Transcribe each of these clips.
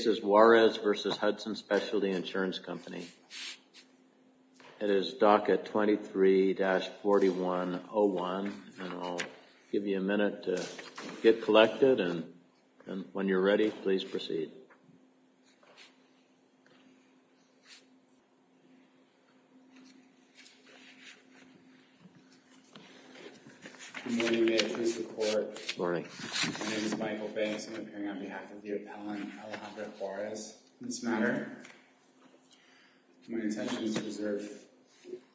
This is DACA 23-4101 and I'll give you a minute to get collected and when you're ready, please proceed. Good morning. May it please the court. Good morning. My name is Michael Banks. I'm appearing on behalf of the appellant, Alejandro Juarez, in this matter. My intention is to reserve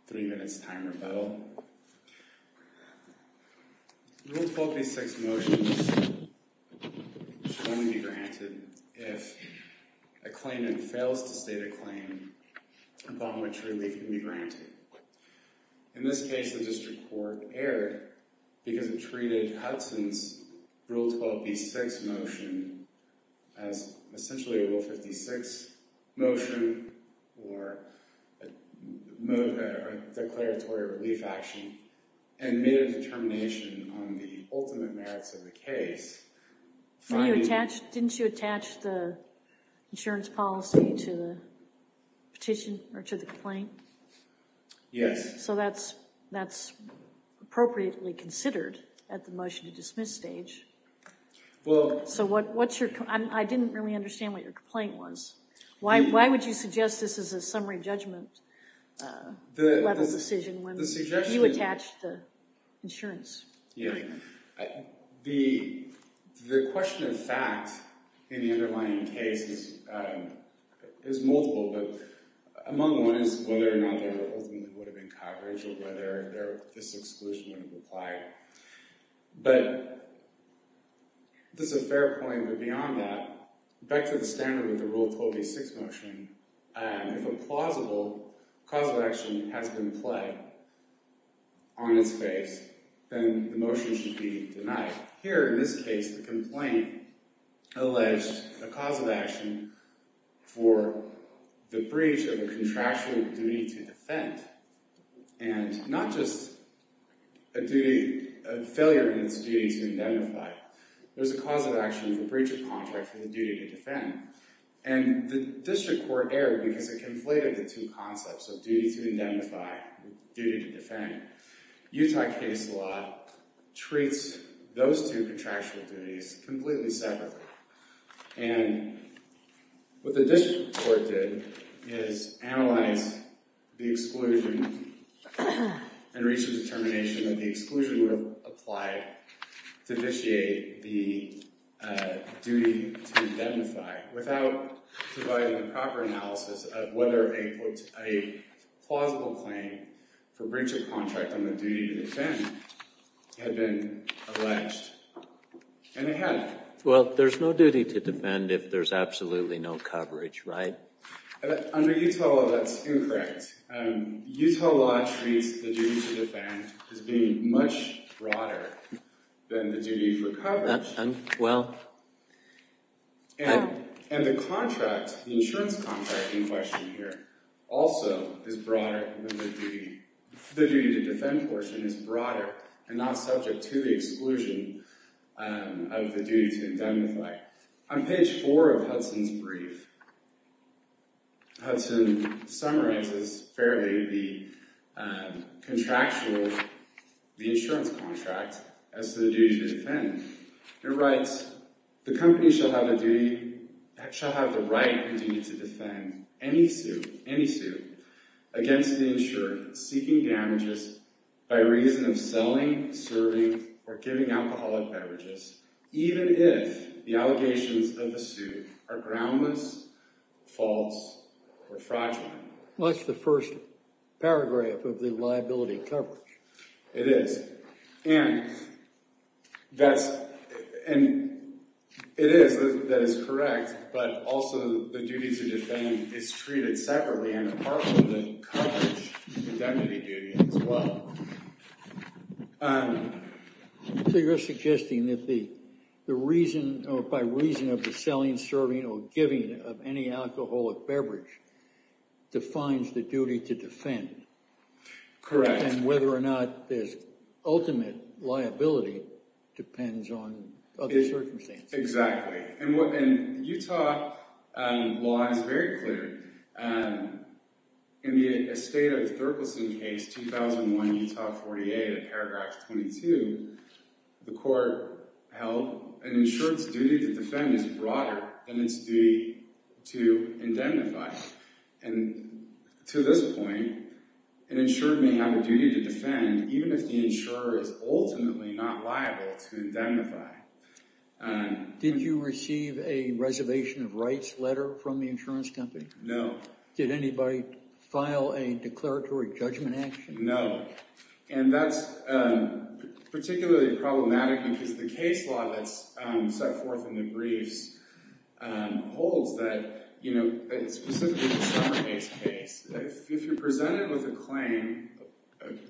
three minutes time rebuttal. Rule 12b-6 motions should only be granted if a claimant fails to state a claim upon which relief can be granted. In this case, the district court erred because it treated Hudson's Rule 12b-6 motion as essentially a Rule 56 motion or a declaratory relief action and made a determination on the ultimate merits of the case. Didn't you attach the insurance policy to the petition or to the complaint? Yes. So that's appropriately considered at the motion-to-dismiss stage. I didn't really understand what your complaint was. Why would you suggest this is a summary judgment level decision when you attached the insurance? Yeah. The question of fact in the underlying case is multiple, but among one is whether or not there ultimately would have been coverage or whether this exclusion would have applied. But this is a fair point, but beyond that, back to the standard of the Rule 12b-6 motion, if a plausible cause of action has been pled on its face, then the motion should be denied. Here, in this case, the complaint alleged a cause of action for the breach of a contractual duty to defend and not just a failure in its duty to identify. There's a cause of action for breach of contract for the duty to defend. And the district court erred because it conflated the two concepts of duty to identify and duty to defend. Utah case law treats those two contractual duties completely separately. And what the district court did is analyze the exclusion and reached a determination that the exclusion would have applied to vitiate the duty to identify without providing a proper analysis of whether a plausible claim for breach of contract on the duty to defend had been alleged. And it had. Well, there's no duty to defend if there's absolutely no coverage, right? Under Utah law, that's incorrect. Utah law treats the duty to defend as being much broader than the duty for coverage. And the insurance contract in question here also is broader than the duty. The duty to defend portion is broader and not subject to the exclusion of the duty to identify. On page four of Hudson's brief, Hudson summarizes fairly the contractual, the insurance contract as the duty to defend. It writes, the company shall have the right and duty to defend any suit against the insured seeking damages by reason of selling, serving or giving alcoholic beverages, even if the allegations of the suit are groundless, false or fraudulent. What's the first paragraph of the liability coverage? It is. And that's and it is. That is correct. But also the duty to defend is treated separately and apart from the coverage indemnity duty as well. So you're suggesting that the the reason or by reason of the selling, serving or giving of any alcoholic beverage defines the duty to defend? Correct. And whether or not there's ultimate liability depends on other circumstances. Exactly. And Utah law is very clear. And in the estate of Thurgolson case, 2001 Utah 48, paragraph 22, the court held an insurance duty to defend is broader than its duty to indemnify. And to this point, an insured may have a duty to defend even if the insurer is ultimately not liable to indemnify. Did you receive a reservation of rights letter from the insurance company? No. Did anybody file a declaratory judgment action? No. And that's particularly problematic because the case law that's set forth in the briefs holds that, you know, specific case. If you're presented with a claim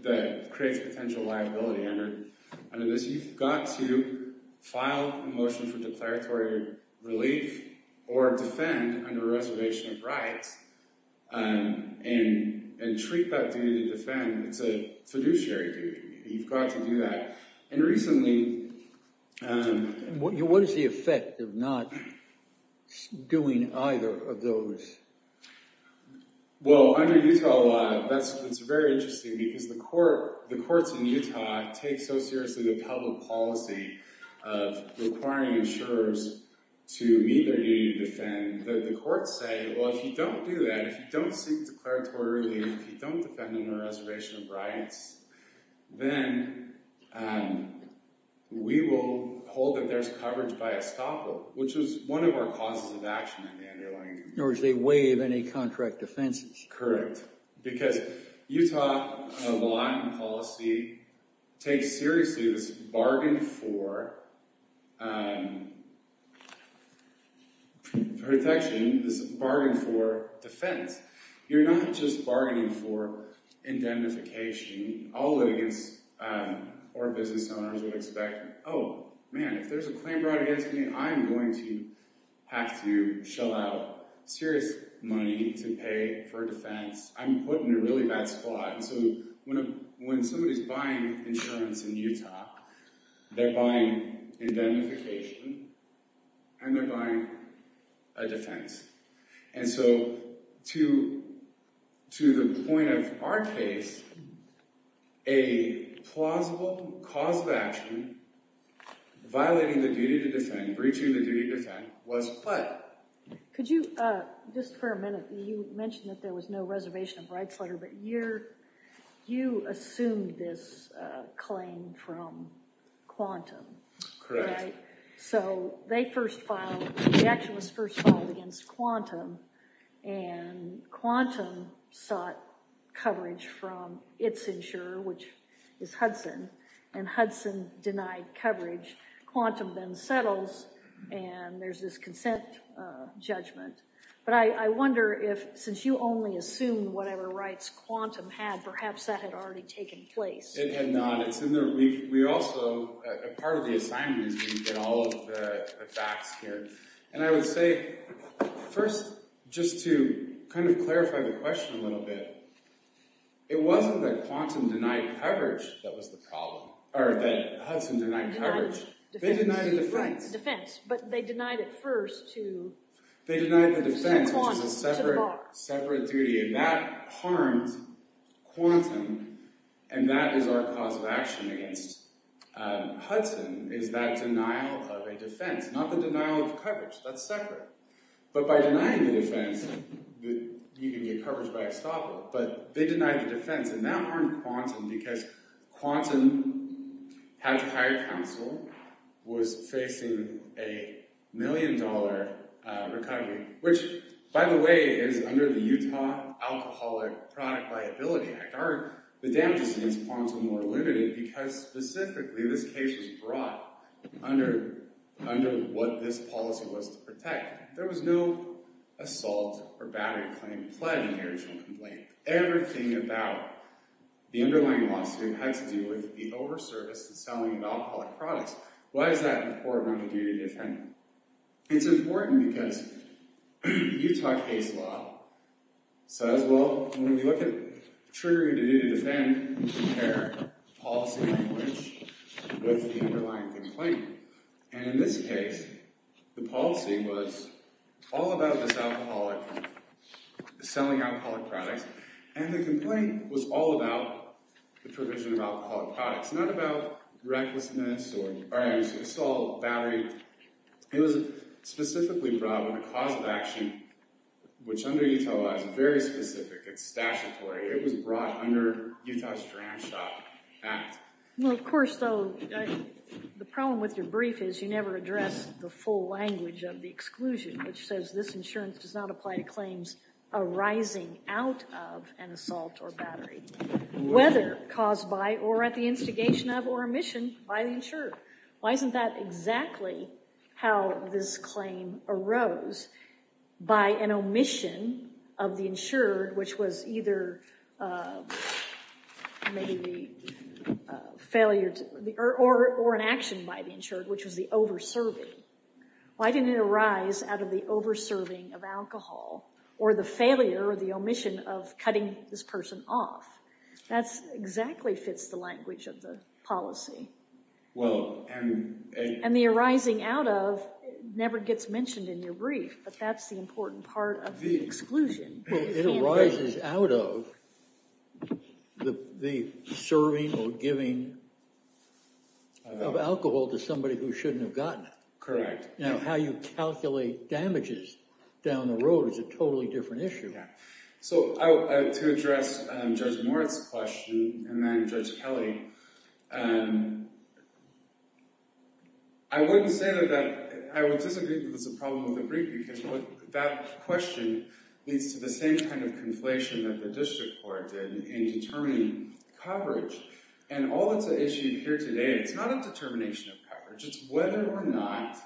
that creates potential liability under this, you've got to file a motion for declaratory relief or defend under reservation of rights. And treat that duty to defend. It's a fiduciary duty. You've got to do that. And recently... What is the effect of not doing either of those? Well, under Utah law, it's very interesting because the courts in Utah take so seriously the public policy of requiring insurers to meet their duty to defend. The courts say, well, if you don't do that, if you don't seek declaratory relief, if you don't defend under reservation of rights, then we will hold that there's coverage by estoppel, which is one of our causes of action in the underlying... In other words, they waive any contract defenses. Correct. Because Utah law and policy take seriously this bargain for protection, this bargain for defense. You're not just bargaining for indemnification. All litigants or business owners would expect, oh, man, if there's a claim brought against me, I'm going to have to shell out serious money to pay for defense. I'm put in a really bad spot. And so when somebody's buying insurance in Utah, they're buying indemnification and they're buying a defense. And so to the point of our case, a plausible cause of action violating the duty to defend, breaching the duty to defend, was CLED. Could you, just for a minute, you mentioned that there was no reservation of rights letter, but you assumed this claim from Quantum. Correct. So they first filed, the action was first filed against Quantum, and Quantum sought coverage from its insurer, which is Hudson, and Hudson denied coverage. Quantum then settles, and there's this consent judgment. But I wonder if, since you only assumed whatever rights Quantum had, perhaps that had already taken place. It had not. It's in there. We also, part of the assignment is we get all of the facts here. And I would say, first, just to kind of clarify the question a little bit, it wasn't that Quantum denied coverage that was the problem, or that Hudson denied coverage. They denied the defense. They denied the defense, which is a separate duty, and that harmed Quantum, and that is our cause of action against Hudson, is that denial of a defense. Not the denial of coverage. That's separate. But by denying the defense, you can get coverage by a stopper, but they denied the defense, and that harmed Quantum, because Quantum had to hire counsel, was facing a million dollar recovery, which, by the way, is under the Utah Alcoholic Product Liability Act. The damages against Quantum were limited because, specifically, this case was brought under what this policy was to protect. There was no assault or battery claim pled in the original complaint. Everything about the underlying lawsuit had to do with the over-service to selling of alcoholic products. Why is that important on the duty to defend? It's important because Utah case law says, well, when we look at triggering the duty to defend, we compare policy language with the underlying complaint. In this case, the policy was all about this alcoholic, selling alcoholic products, and the complaint was all about the provision of alcoholic products, not about recklessness or assault, battery. It was specifically brought with a cause of action, which under Utah law is very specific. It's statutory. It was brought under Utah's Dram Shop Act. Well, of course, though, the problem with your brief is you never address the full language of the exclusion, which says this insurance does not apply to claims arising out of an assault or battery, whether caused by or at the instigation of or omission by the insurer. Why isn't that exactly how this claim arose, by an omission of the insured, which was either maybe the failure or an action by the insured, which was the over-serving? Why didn't it arise out of the over-serving of alcohol or the failure or the omission of cutting this person off? That exactly fits the language of the policy. And the arising out of never gets mentioned in your brief, but that's the important part of the exclusion. It arises out of the serving or giving of alcohol to somebody who shouldn't have gotten it. Correct. Now, how you calculate damages down the road is a totally different issue. Yeah. So to address Judge Moritz's question and then Judge Kelly, I wouldn't say that I would disagree that there's a problem with the brief, because that question leads to the same kind of conflation that the district court did in determining coverage. And all that's at issue here today, it's not a determination of coverage. It's whether or not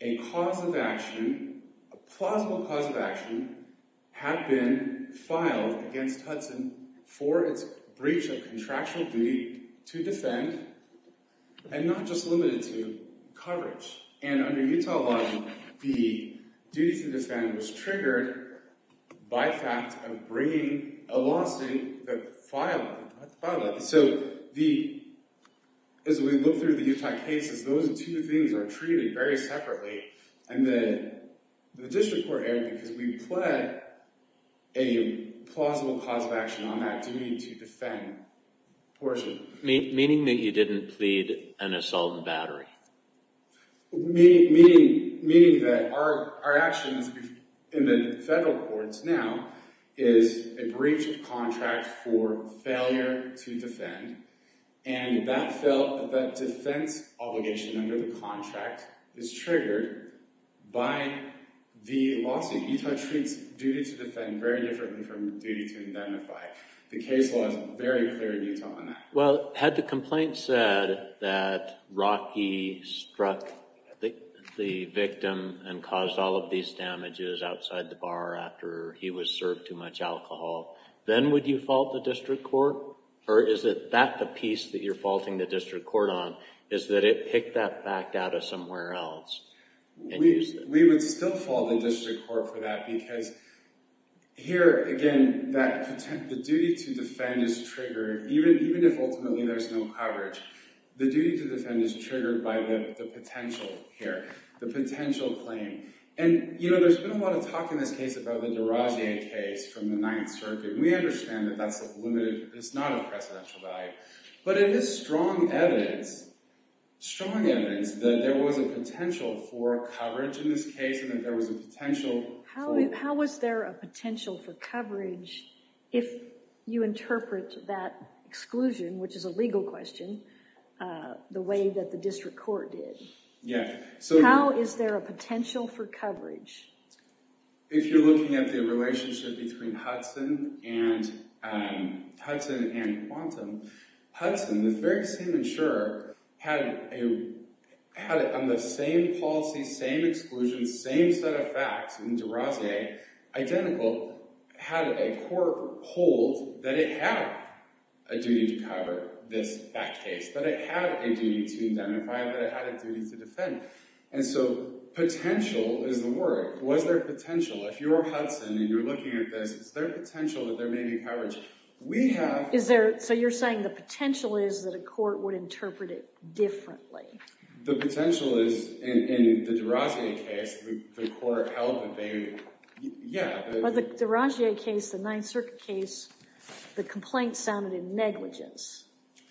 a cause of action, a plausible cause of action, had been filed against Hudson for its breach of contractual duty to defend and not just limited to coverage. And under Utah law, the duty to defend was triggered by fact of bringing a lawsuit that filed it. So as we look through the Utah cases, those two things are treated very separately. And the district court erred because we pled a plausible cause of action on that duty to defend portion. Meaning that you didn't plead an assault and battery? Meaning that our actions in the federal courts now is a breach of contract for failure to defend. And that defense obligation under the contract is triggered by the lawsuit. Utah treats duty to defend very differently from duty to identify. The case law is very clear in Utah on that. Well, had the complaint said that Rocky struck the victim and caused all of these damages outside the bar after he was served too much alcohol, then would you fault the district court? Or is it that the piece that you're faulting the district court on is that it picked that fact out of somewhere else? We would still fault the district court for that because here, again, the duty to defend is triggered, even if ultimately there's no coverage. The duty to defend is triggered by the potential here, the potential claim. And, you know, there's been a lot of talk in this case about the Deragier case from the Ninth Circuit. We understand that that's a limited, it's not a precedential value. But it is strong evidence, strong evidence that there was a potential for coverage in this case and that there was a potential. How was there a potential for coverage if you interpret that exclusion, which is a legal question, the way that the district court did? Yeah. If you're looking at the relationship between Hudson and Quantum, Hudson, the very same insurer, had on the same policy, same exclusion, same set of facts in Deragier, identical, had a court hold that it had a duty to cover that case, that it had a duty to identify, that it had a duty to defend. And so potential is the word. Was there potential? If you're Hudson and you're looking at this, is there potential that there may be coverage? We have— Is there—so you're saying the potential is that a court would interpret it differently? The potential is, in the Deragier case, the court held that they—yeah. In the Deragier case, the Ninth Circuit case, the complaint sounded in negligence.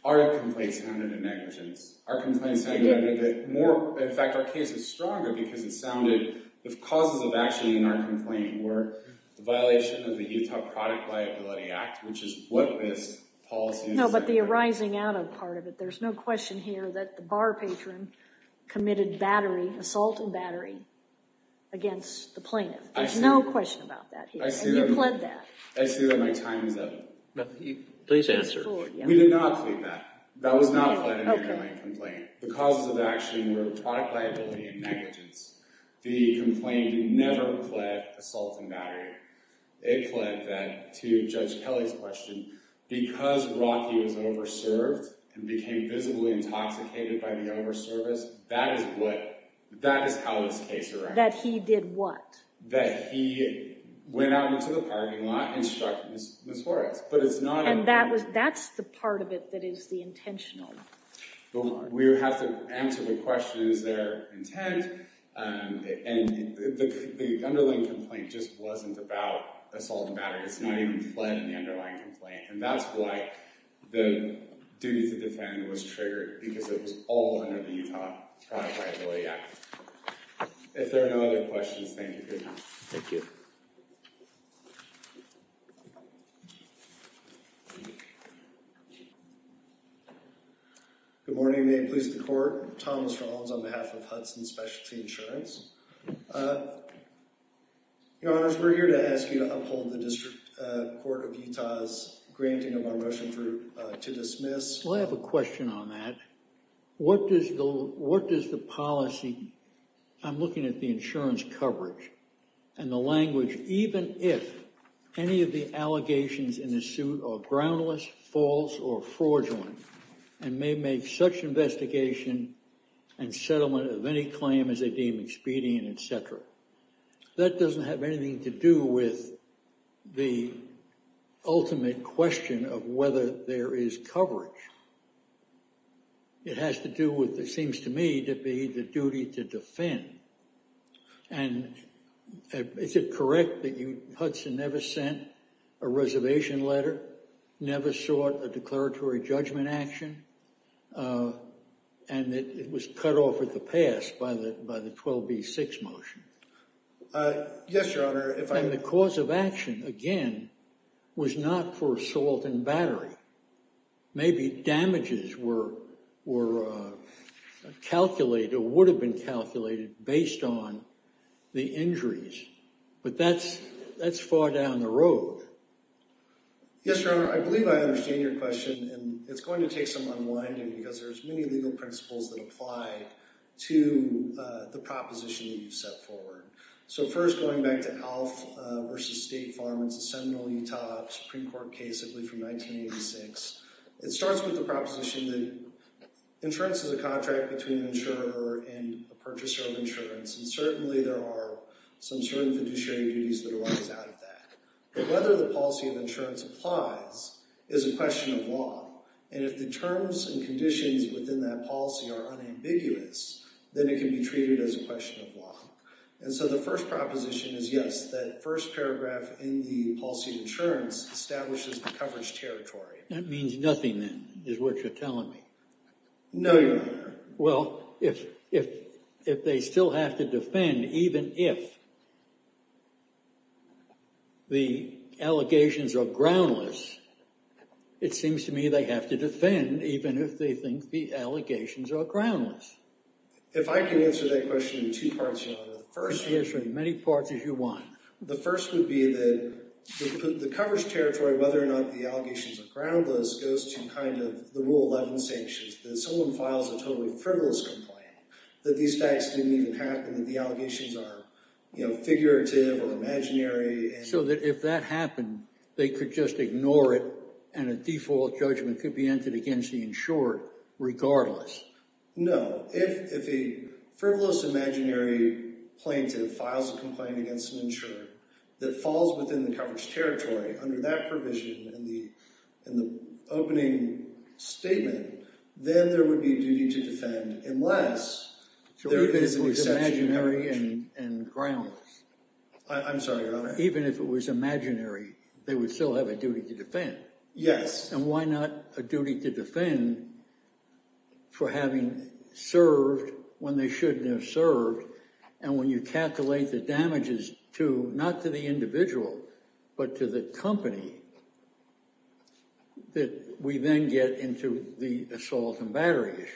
Our complaint sounded in negligence. In fact, our case is stronger because it sounded—the causes of action in our complaint were the violation of the Utah Product Liability Act, which is what this policy— No, but the arising out of part of it. There's no question here that the bar patron committed assault and battery against the plaintiff. There's no question about that here. And you pled that. I see that my time is up. Please answer. We did not plead that. That was not pled in the complaint. The causes of action were product liability and negligence. The complaint never pled assault and battery. It pled that, to Judge Kelly's question, because Rocky was over-served and became visibly intoxicated by the over-service, that is what—that is how this case arrived. That he did what? That he went out into the parking lot and struck Ms. Horace, but it's not— And that's the part of it that is the intentional. We would have to answer the questions that are intent, and the underlying complaint just wasn't about assault and battery. It's not even pled in the underlying complaint. And that's why the duty to defend was triggered, because it was all under the Utah Product Liability Act. If there are no other questions, thank you for your time. Thank you. Thank you. Good morning. May it please the Court. Thomas Rollins on behalf of Hudson Specialty Insurance. Your Honor, we're here to ask you to uphold the District Court of Utah's granting of our motion to dismiss. Well, I have a question on that. What does the policy— Even if any of the allegations in the suit are groundless, false, or fraudulent, and may make such investigation and settlement of any claim as they deem expedient, et cetera, that doesn't have anything to do with the ultimate question of whether there is coverage. It has to do with, it seems to me, to be the duty to defend. And is it correct that Hudson never sent a reservation letter, never sought a declaratory judgment action, and that it was cut off at the pass by the 12B6 motion? Yes, Your Honor. And the cause of action, again, was not for assault and battery. Maybe damages were calculated or would have been calculated based on the injuries. But that's far down the road. Yes, Your Honor. I believe I understand your question, and it's going to take some unwinding because there's many legal principles that apply to the proposition that you've set forward. So first, going back to Alf v. State Farm, it's a seminal Utah Supreme Court case from 1986. It starts with the proposition that insurance is a contract between an insurer and a purchaser of insurance, and certainly there are some certain fiduciary duties that arise out of that. But whether the policy of insurance applies is a question of law. And if the terms and conditions within that policy are unambiguous, then it can be treated as a question of law. And so the first proposition is yes, that first paragraph in the policy of insurance establishes the coverage territory. That means nothing, then, is what you're telling me. No, Your Honor. Well, if they still have to defend even if the allegations are groundless, it seems to me they have to defend even if they think the allegations are groundless. If I can answer that question in two parts, Your Honor. Answer in as many parts as you want. The first would be that the coverage territory, whether or not the allegations are groundless, goes to kind of the Rule 11 sanctions, that someone files a totally frivolous complaint, that these facts didn't even happen, that the allegations are figurative or imaginary. So that if that happened, they could just ignore it, and a default judgment could be entered against the insurer regardless. No. If a frivolous imaginary plaintiff files a complaint against an insurer that falls within the coverage territory under that provision in the opening statement, then there would be a duty to defend unless there is an exception. So even if it was imaginary and groundless? I'm sorry, Your Honor. Even if it was imaginary, they would still have a duty to defend? Yes. And why not a duty to defend for having served when they shouldn't have served? And when you calculate the damages to, not to the individual, but to the company, that we then get into the assault and battery issue.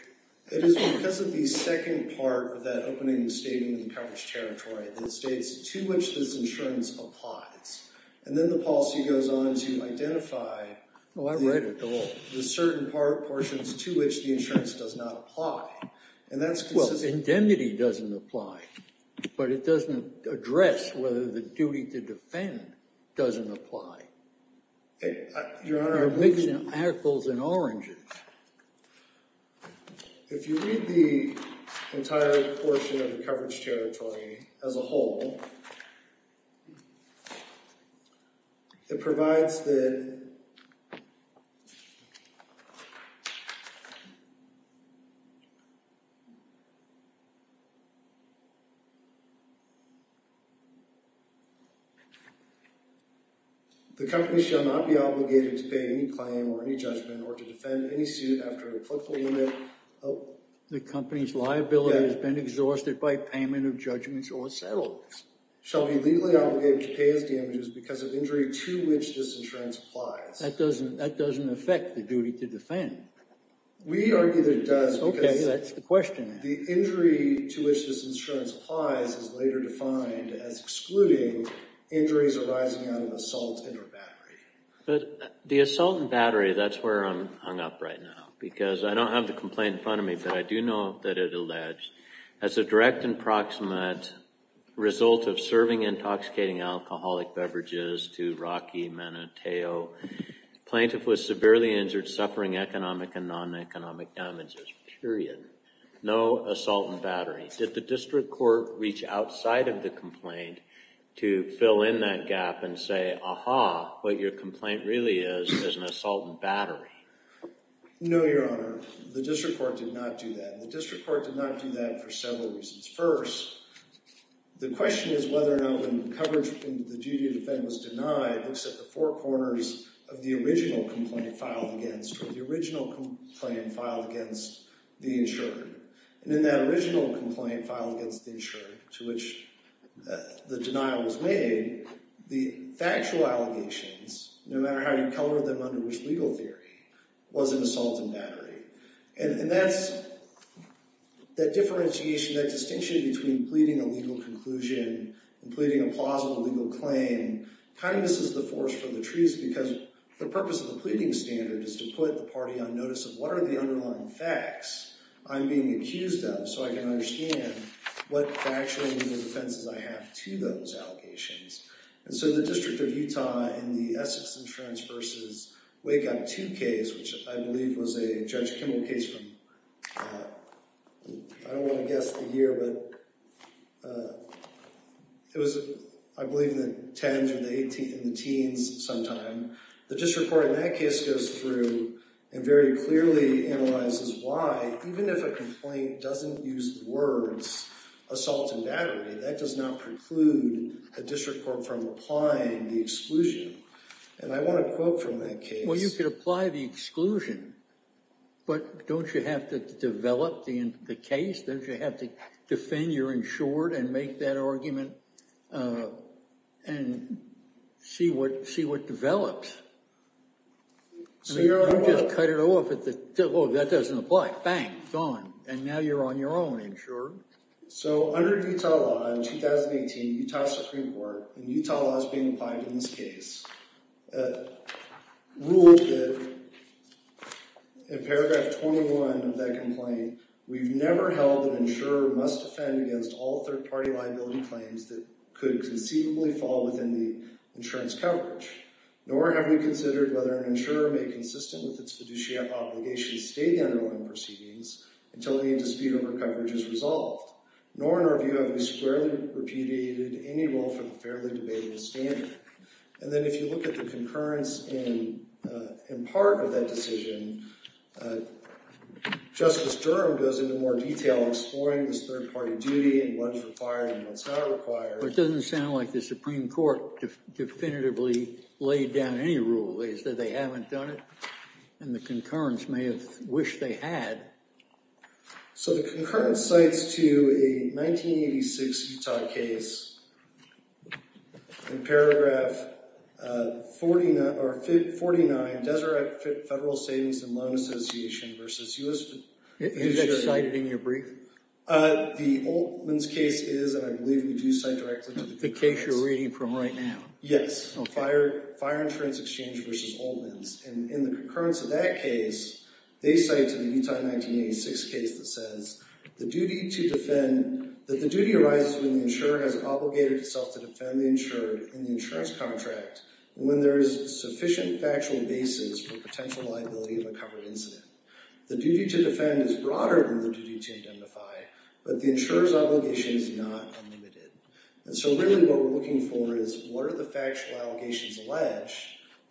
It is because of the second part of that opening statement, the coverage territory, that states to which this insurance applies. And then the policy goes on to identify the certain portions to which the insurance does not apply. Well, indemnity doesn't apply. But it doesn't address whether the duty to defend doesn't apply. Your Honor, I'm thinking of apples and oranges. If you read the entire portion of the coverage territory as a whole, it provides that... The company shall not be obligated to pay any claim or any judgment or to defend any suit after a clerical limit. The company's liability has been exhausted by payment of judgments or settlements. Shall be legally obligated to pay as damages because of injury to which this insurance applies. That doesn't affect the duty to defend. We argue that it does because... Okay, that's the question then. The injury to which this insurance applies is later defined as excluding injuries arising out of assault and or battery. But the assault and battery, that's where I'm hung up right now. Because I don't have the complaint in front of me, but I do know that it alleged, as a direct and proximate result of serving intoxicating alcoholic beverages to Rocky Manateo, plaintiff was severely injured, suffering economic and non-economic damages, period. No assault and battery. Did the district court reach outside of the complaint to fill in that gap and say, aha, what your complaint really is is an assault and battery? No, Your Honor. The district court did not do that. The district court did not do that for several reasons. First, the question is whether or not when coverage in the duty to defend was denied, except the four corners of the original complaint filed against, or the original complaint filed against the insured. And in that original complaint filed against the insured to which the denial was made, the factual allegations, no matter how you color them under which legal theory, was an assault and battery. And that's, that differentiation, that distinction between pleading a legal conclusion and pleading a plausible legal claim kind of misses the force for the treaties because the purpose of the pleading standard is to put the party on notice of what are the underlying facts I'm being accused of so I can understand what factual legal defenses I have to those allegations. And so the District of Utah in the Essex Insurance versus Wake Up 2 case, which I believe was a Judge Kimball case from, I don't want to guess the year, but it was, I believe, the 10s or the 18s, the teens sometime. The district court in that case goes through and very clearly analyzes why, even if a complaint doesn't use the words assault and battery, that does not preclude a district court from applying the exclusion. And I want a quote from that case. Well, you could apply the exclusion, but don't you have to develop the case? Don't you have to defend your insured and make that argument and see what develops? I mean, you just cut it off at the, oh, that doesn't apply. Bang, gone. And now you're on your own, insured. So under Utah law in 2018, Utah Supreme Court, and Utah law is being applied in this case, ruled that in Paragraph 21 of that complaint, we've never held an insurer must defend against all third-party liability claims that could conceivably fall within the insurance coverage, nor have we considered whether an insurer may, consistent with its fiduciary obligations, stay the underlying proceedings until the dispute over coverage is resolved, nor in our view have we squarely repudiated any role for the fairly debatable standard. And then if you look at the concurrence in part of that decision, Justice Durham goes into more detail exploring this third-party duty and what's required and what's not required. It doesn't sound like the Supreme Court definitively laid down any rule. They said they haven't done it, and the concurrence may have wished they had. So the concurrence cites to a 1986 Utah case in Paragraph 49, Deseret Federal Savings and Loan Association versus U.S. Is that cited in your brief? The Altman's case is, and I believe we do cite directly to the concurrence. The case you're reading from right now. Yes, Fire Insurance Exchange versus Altman's. And in the concurrence of that case, they cite to the Utah 1986 case that says that the duty arises when the insurer has obligated itself to defend the insured in the insurance contract when there is sufficient factual basis for potential liability of a covered incident. The duty to defend is broader than the duty to identify, but the insurer's obligation is not unlimited. And so really what we're looking for is what are the factual allegations alleged,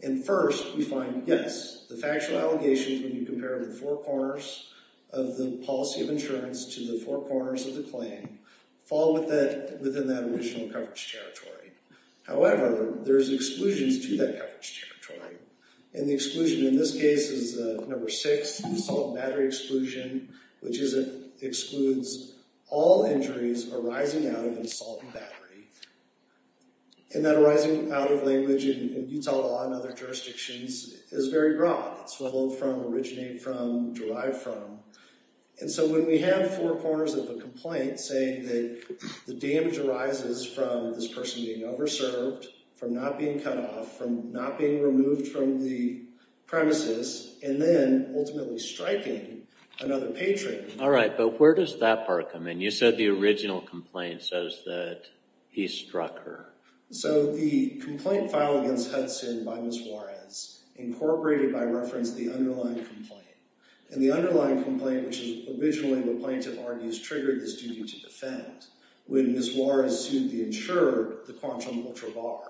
and first we find, yes, the factual allegations when you compare the four corners of the policy of insurance to the four corners of the claim fall within that original coverage territory. However, there's exclusions to that coverage territory, and the exclusion in this case is number six, salt and battery exclusion, which is it excludes all injuries arising out of an assault and battery. And that arising out of language in Utah law and other jurisdictions is very broad. It's swiveled from, originated from, derived from. And so when we have four corners of a complaint saying that the damage arises from this person being over-served, from not being cut off, from not being removed from the premises, and then ultimately striking another patron. All right, but where does that part come in? You said the original complaint says that he struck her. So the complaint filed against Hudson by Ms. Juarez, incorporated by reference to the underlying complaint. And the underlying complaint, which is originally the plaintiff argues, triggered this duty to defend when Ms. Juarez sued the insurer, the Quantum Ultra Bar.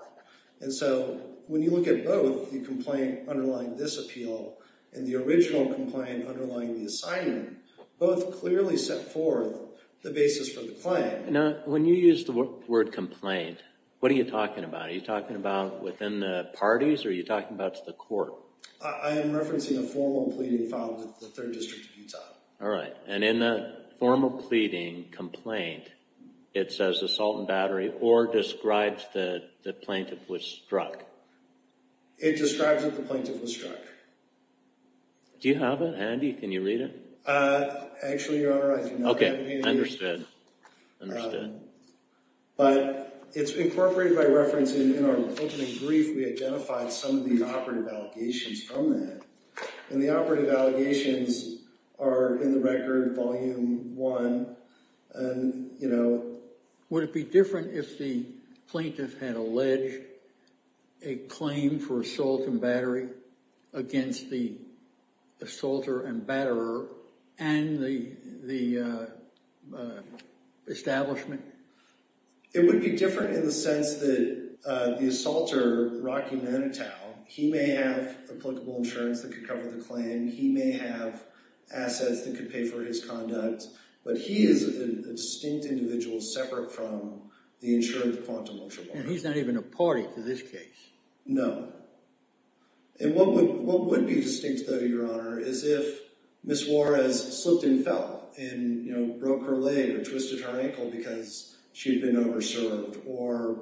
And so when you look at both, the complaint underlying this appeal and the original complaint underlying the assignment, both clearly set forth the basis for the claim. Now, when you use the word complaint, what are you talking about? Are you talking about within the parties or are you talking about to the court? I am referencing a formal pleading filed with the Third District of Utah. All right, and in the formal pleading complaint, it says assault and battery or describes that the plaintiff was struck. It describes that the plaintiff was struck. Do you have it handy? Can you read it? Actually, Your Honor, I do not have it handy. Okay, understood, understood. But it's incorporated by reference. In our opening brief, we identified some of the operative allegations from that. And the operative allegations are in the record, Volume 1. Would it be different if the plaintiff had alleged a claim for assault and battery against the assaulter and batterer and the establishment? It would be different in the sense that the assaulter, Rocky Manitow, he may have applicable insurance that could cover the claim. He may have assets that could pay for his conduct. But he is a distinct individual separate from the insurance quanta motion. And he's not even a party to this case? No. And what would be distinct, though, Your Honor, is if Ms. Juarez slipped and fell and, you know, broke her leg or twisted her ankle because she had been over-served. Or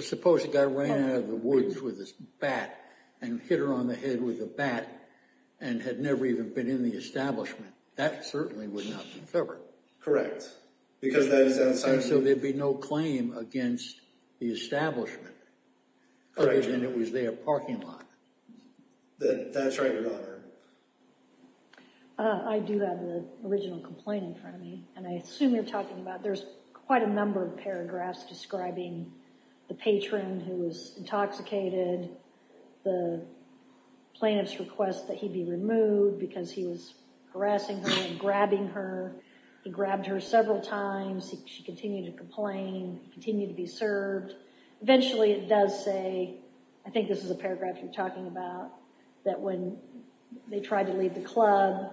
suppose a guy ran out of the woods with his bat and hit her on the head with a bat and had never even been in the establishment. That certainly would not be covered. Correct. And so there'd be no claim against the establishment. Correct. And it was their parking lot. That's right, Your Honor. I do have the original complaint in front of me. And I assume you're talking about there's quite a number of paragraphs describing the patron who was intoxicated, the plaintiff's request that he be removed because he was harassing her and grabbing her. He grabbed her several times. She continued to complain. He continued to be served. Eventually it does say, I think this is a paragraph you're talking about, that when they tried to leave the club,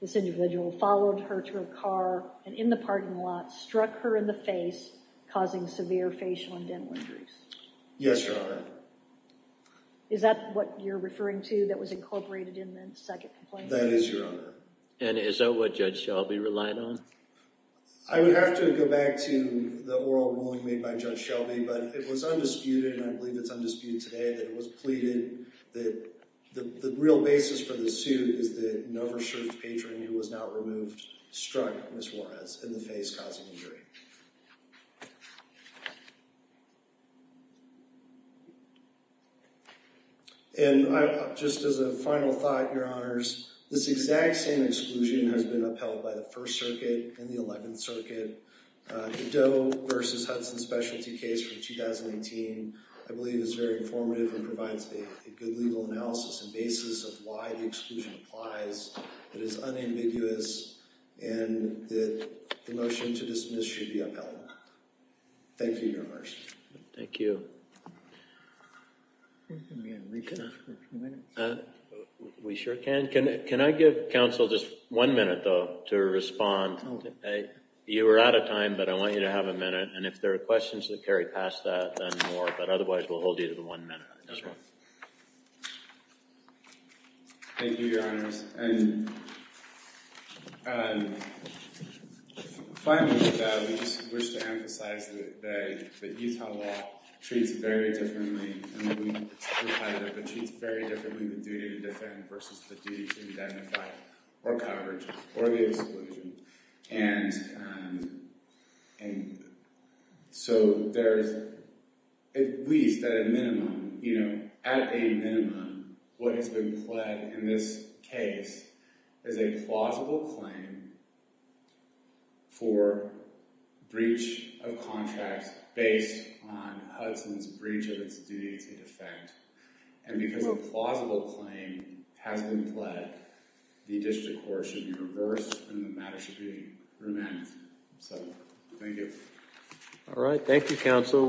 this individual followed her to a car and in the parking lot struck her in the face, causing severe facial and dental injuries. Yes, Your Honor. Is that what you're referring to that was incorporated in the second complaint? That is, Your Honor. And is that what Judge Shelby relied on? I would have to go back to the oral ruling made by Judge Shelby, but it was undisputed, and I believe it's undisputed today, that it was pleaded that the real basis for the suit is that an over-served patron who was now removed struck Ms. Juarez in the face, causing injury. And just as a final thought, Your Honors, this exact same exclusion has been upheld by the First Circuit and the Eleventh Circuit. The Doe v. Hudson specialty case from 2018, I believe, is very informative and provides a good legal analysis and basis of why the exclusion applies. It is unambiguous, and the motion to dismiss should be upheld. Thank you, Your Honor. Thank you. We sure can. Can I give counsel just one minute, though, to respond? You are out of time, but I want you to have a minute, and if there are questions that carry past that, then more, but otherwise we'll hold you to the one minute. Yes, Your Honor. Thank you, Your Honors. And finally, with that, we just wish to emphasize that Utah law treats very differently. I mean, we've had it, but treats very differently the duty to defend versus the duty to identify or coverage or the exclusion. And so there is, at least at a minimum, you know, at a minimum, what has been pled in this case is a plausible claim for breach of contract based on Hudson's breach of its duty to defend. And because a plausible claim has been pled, the district court should be reversed and the matter should be remanded. So, thank you. All right, thank you, counsel.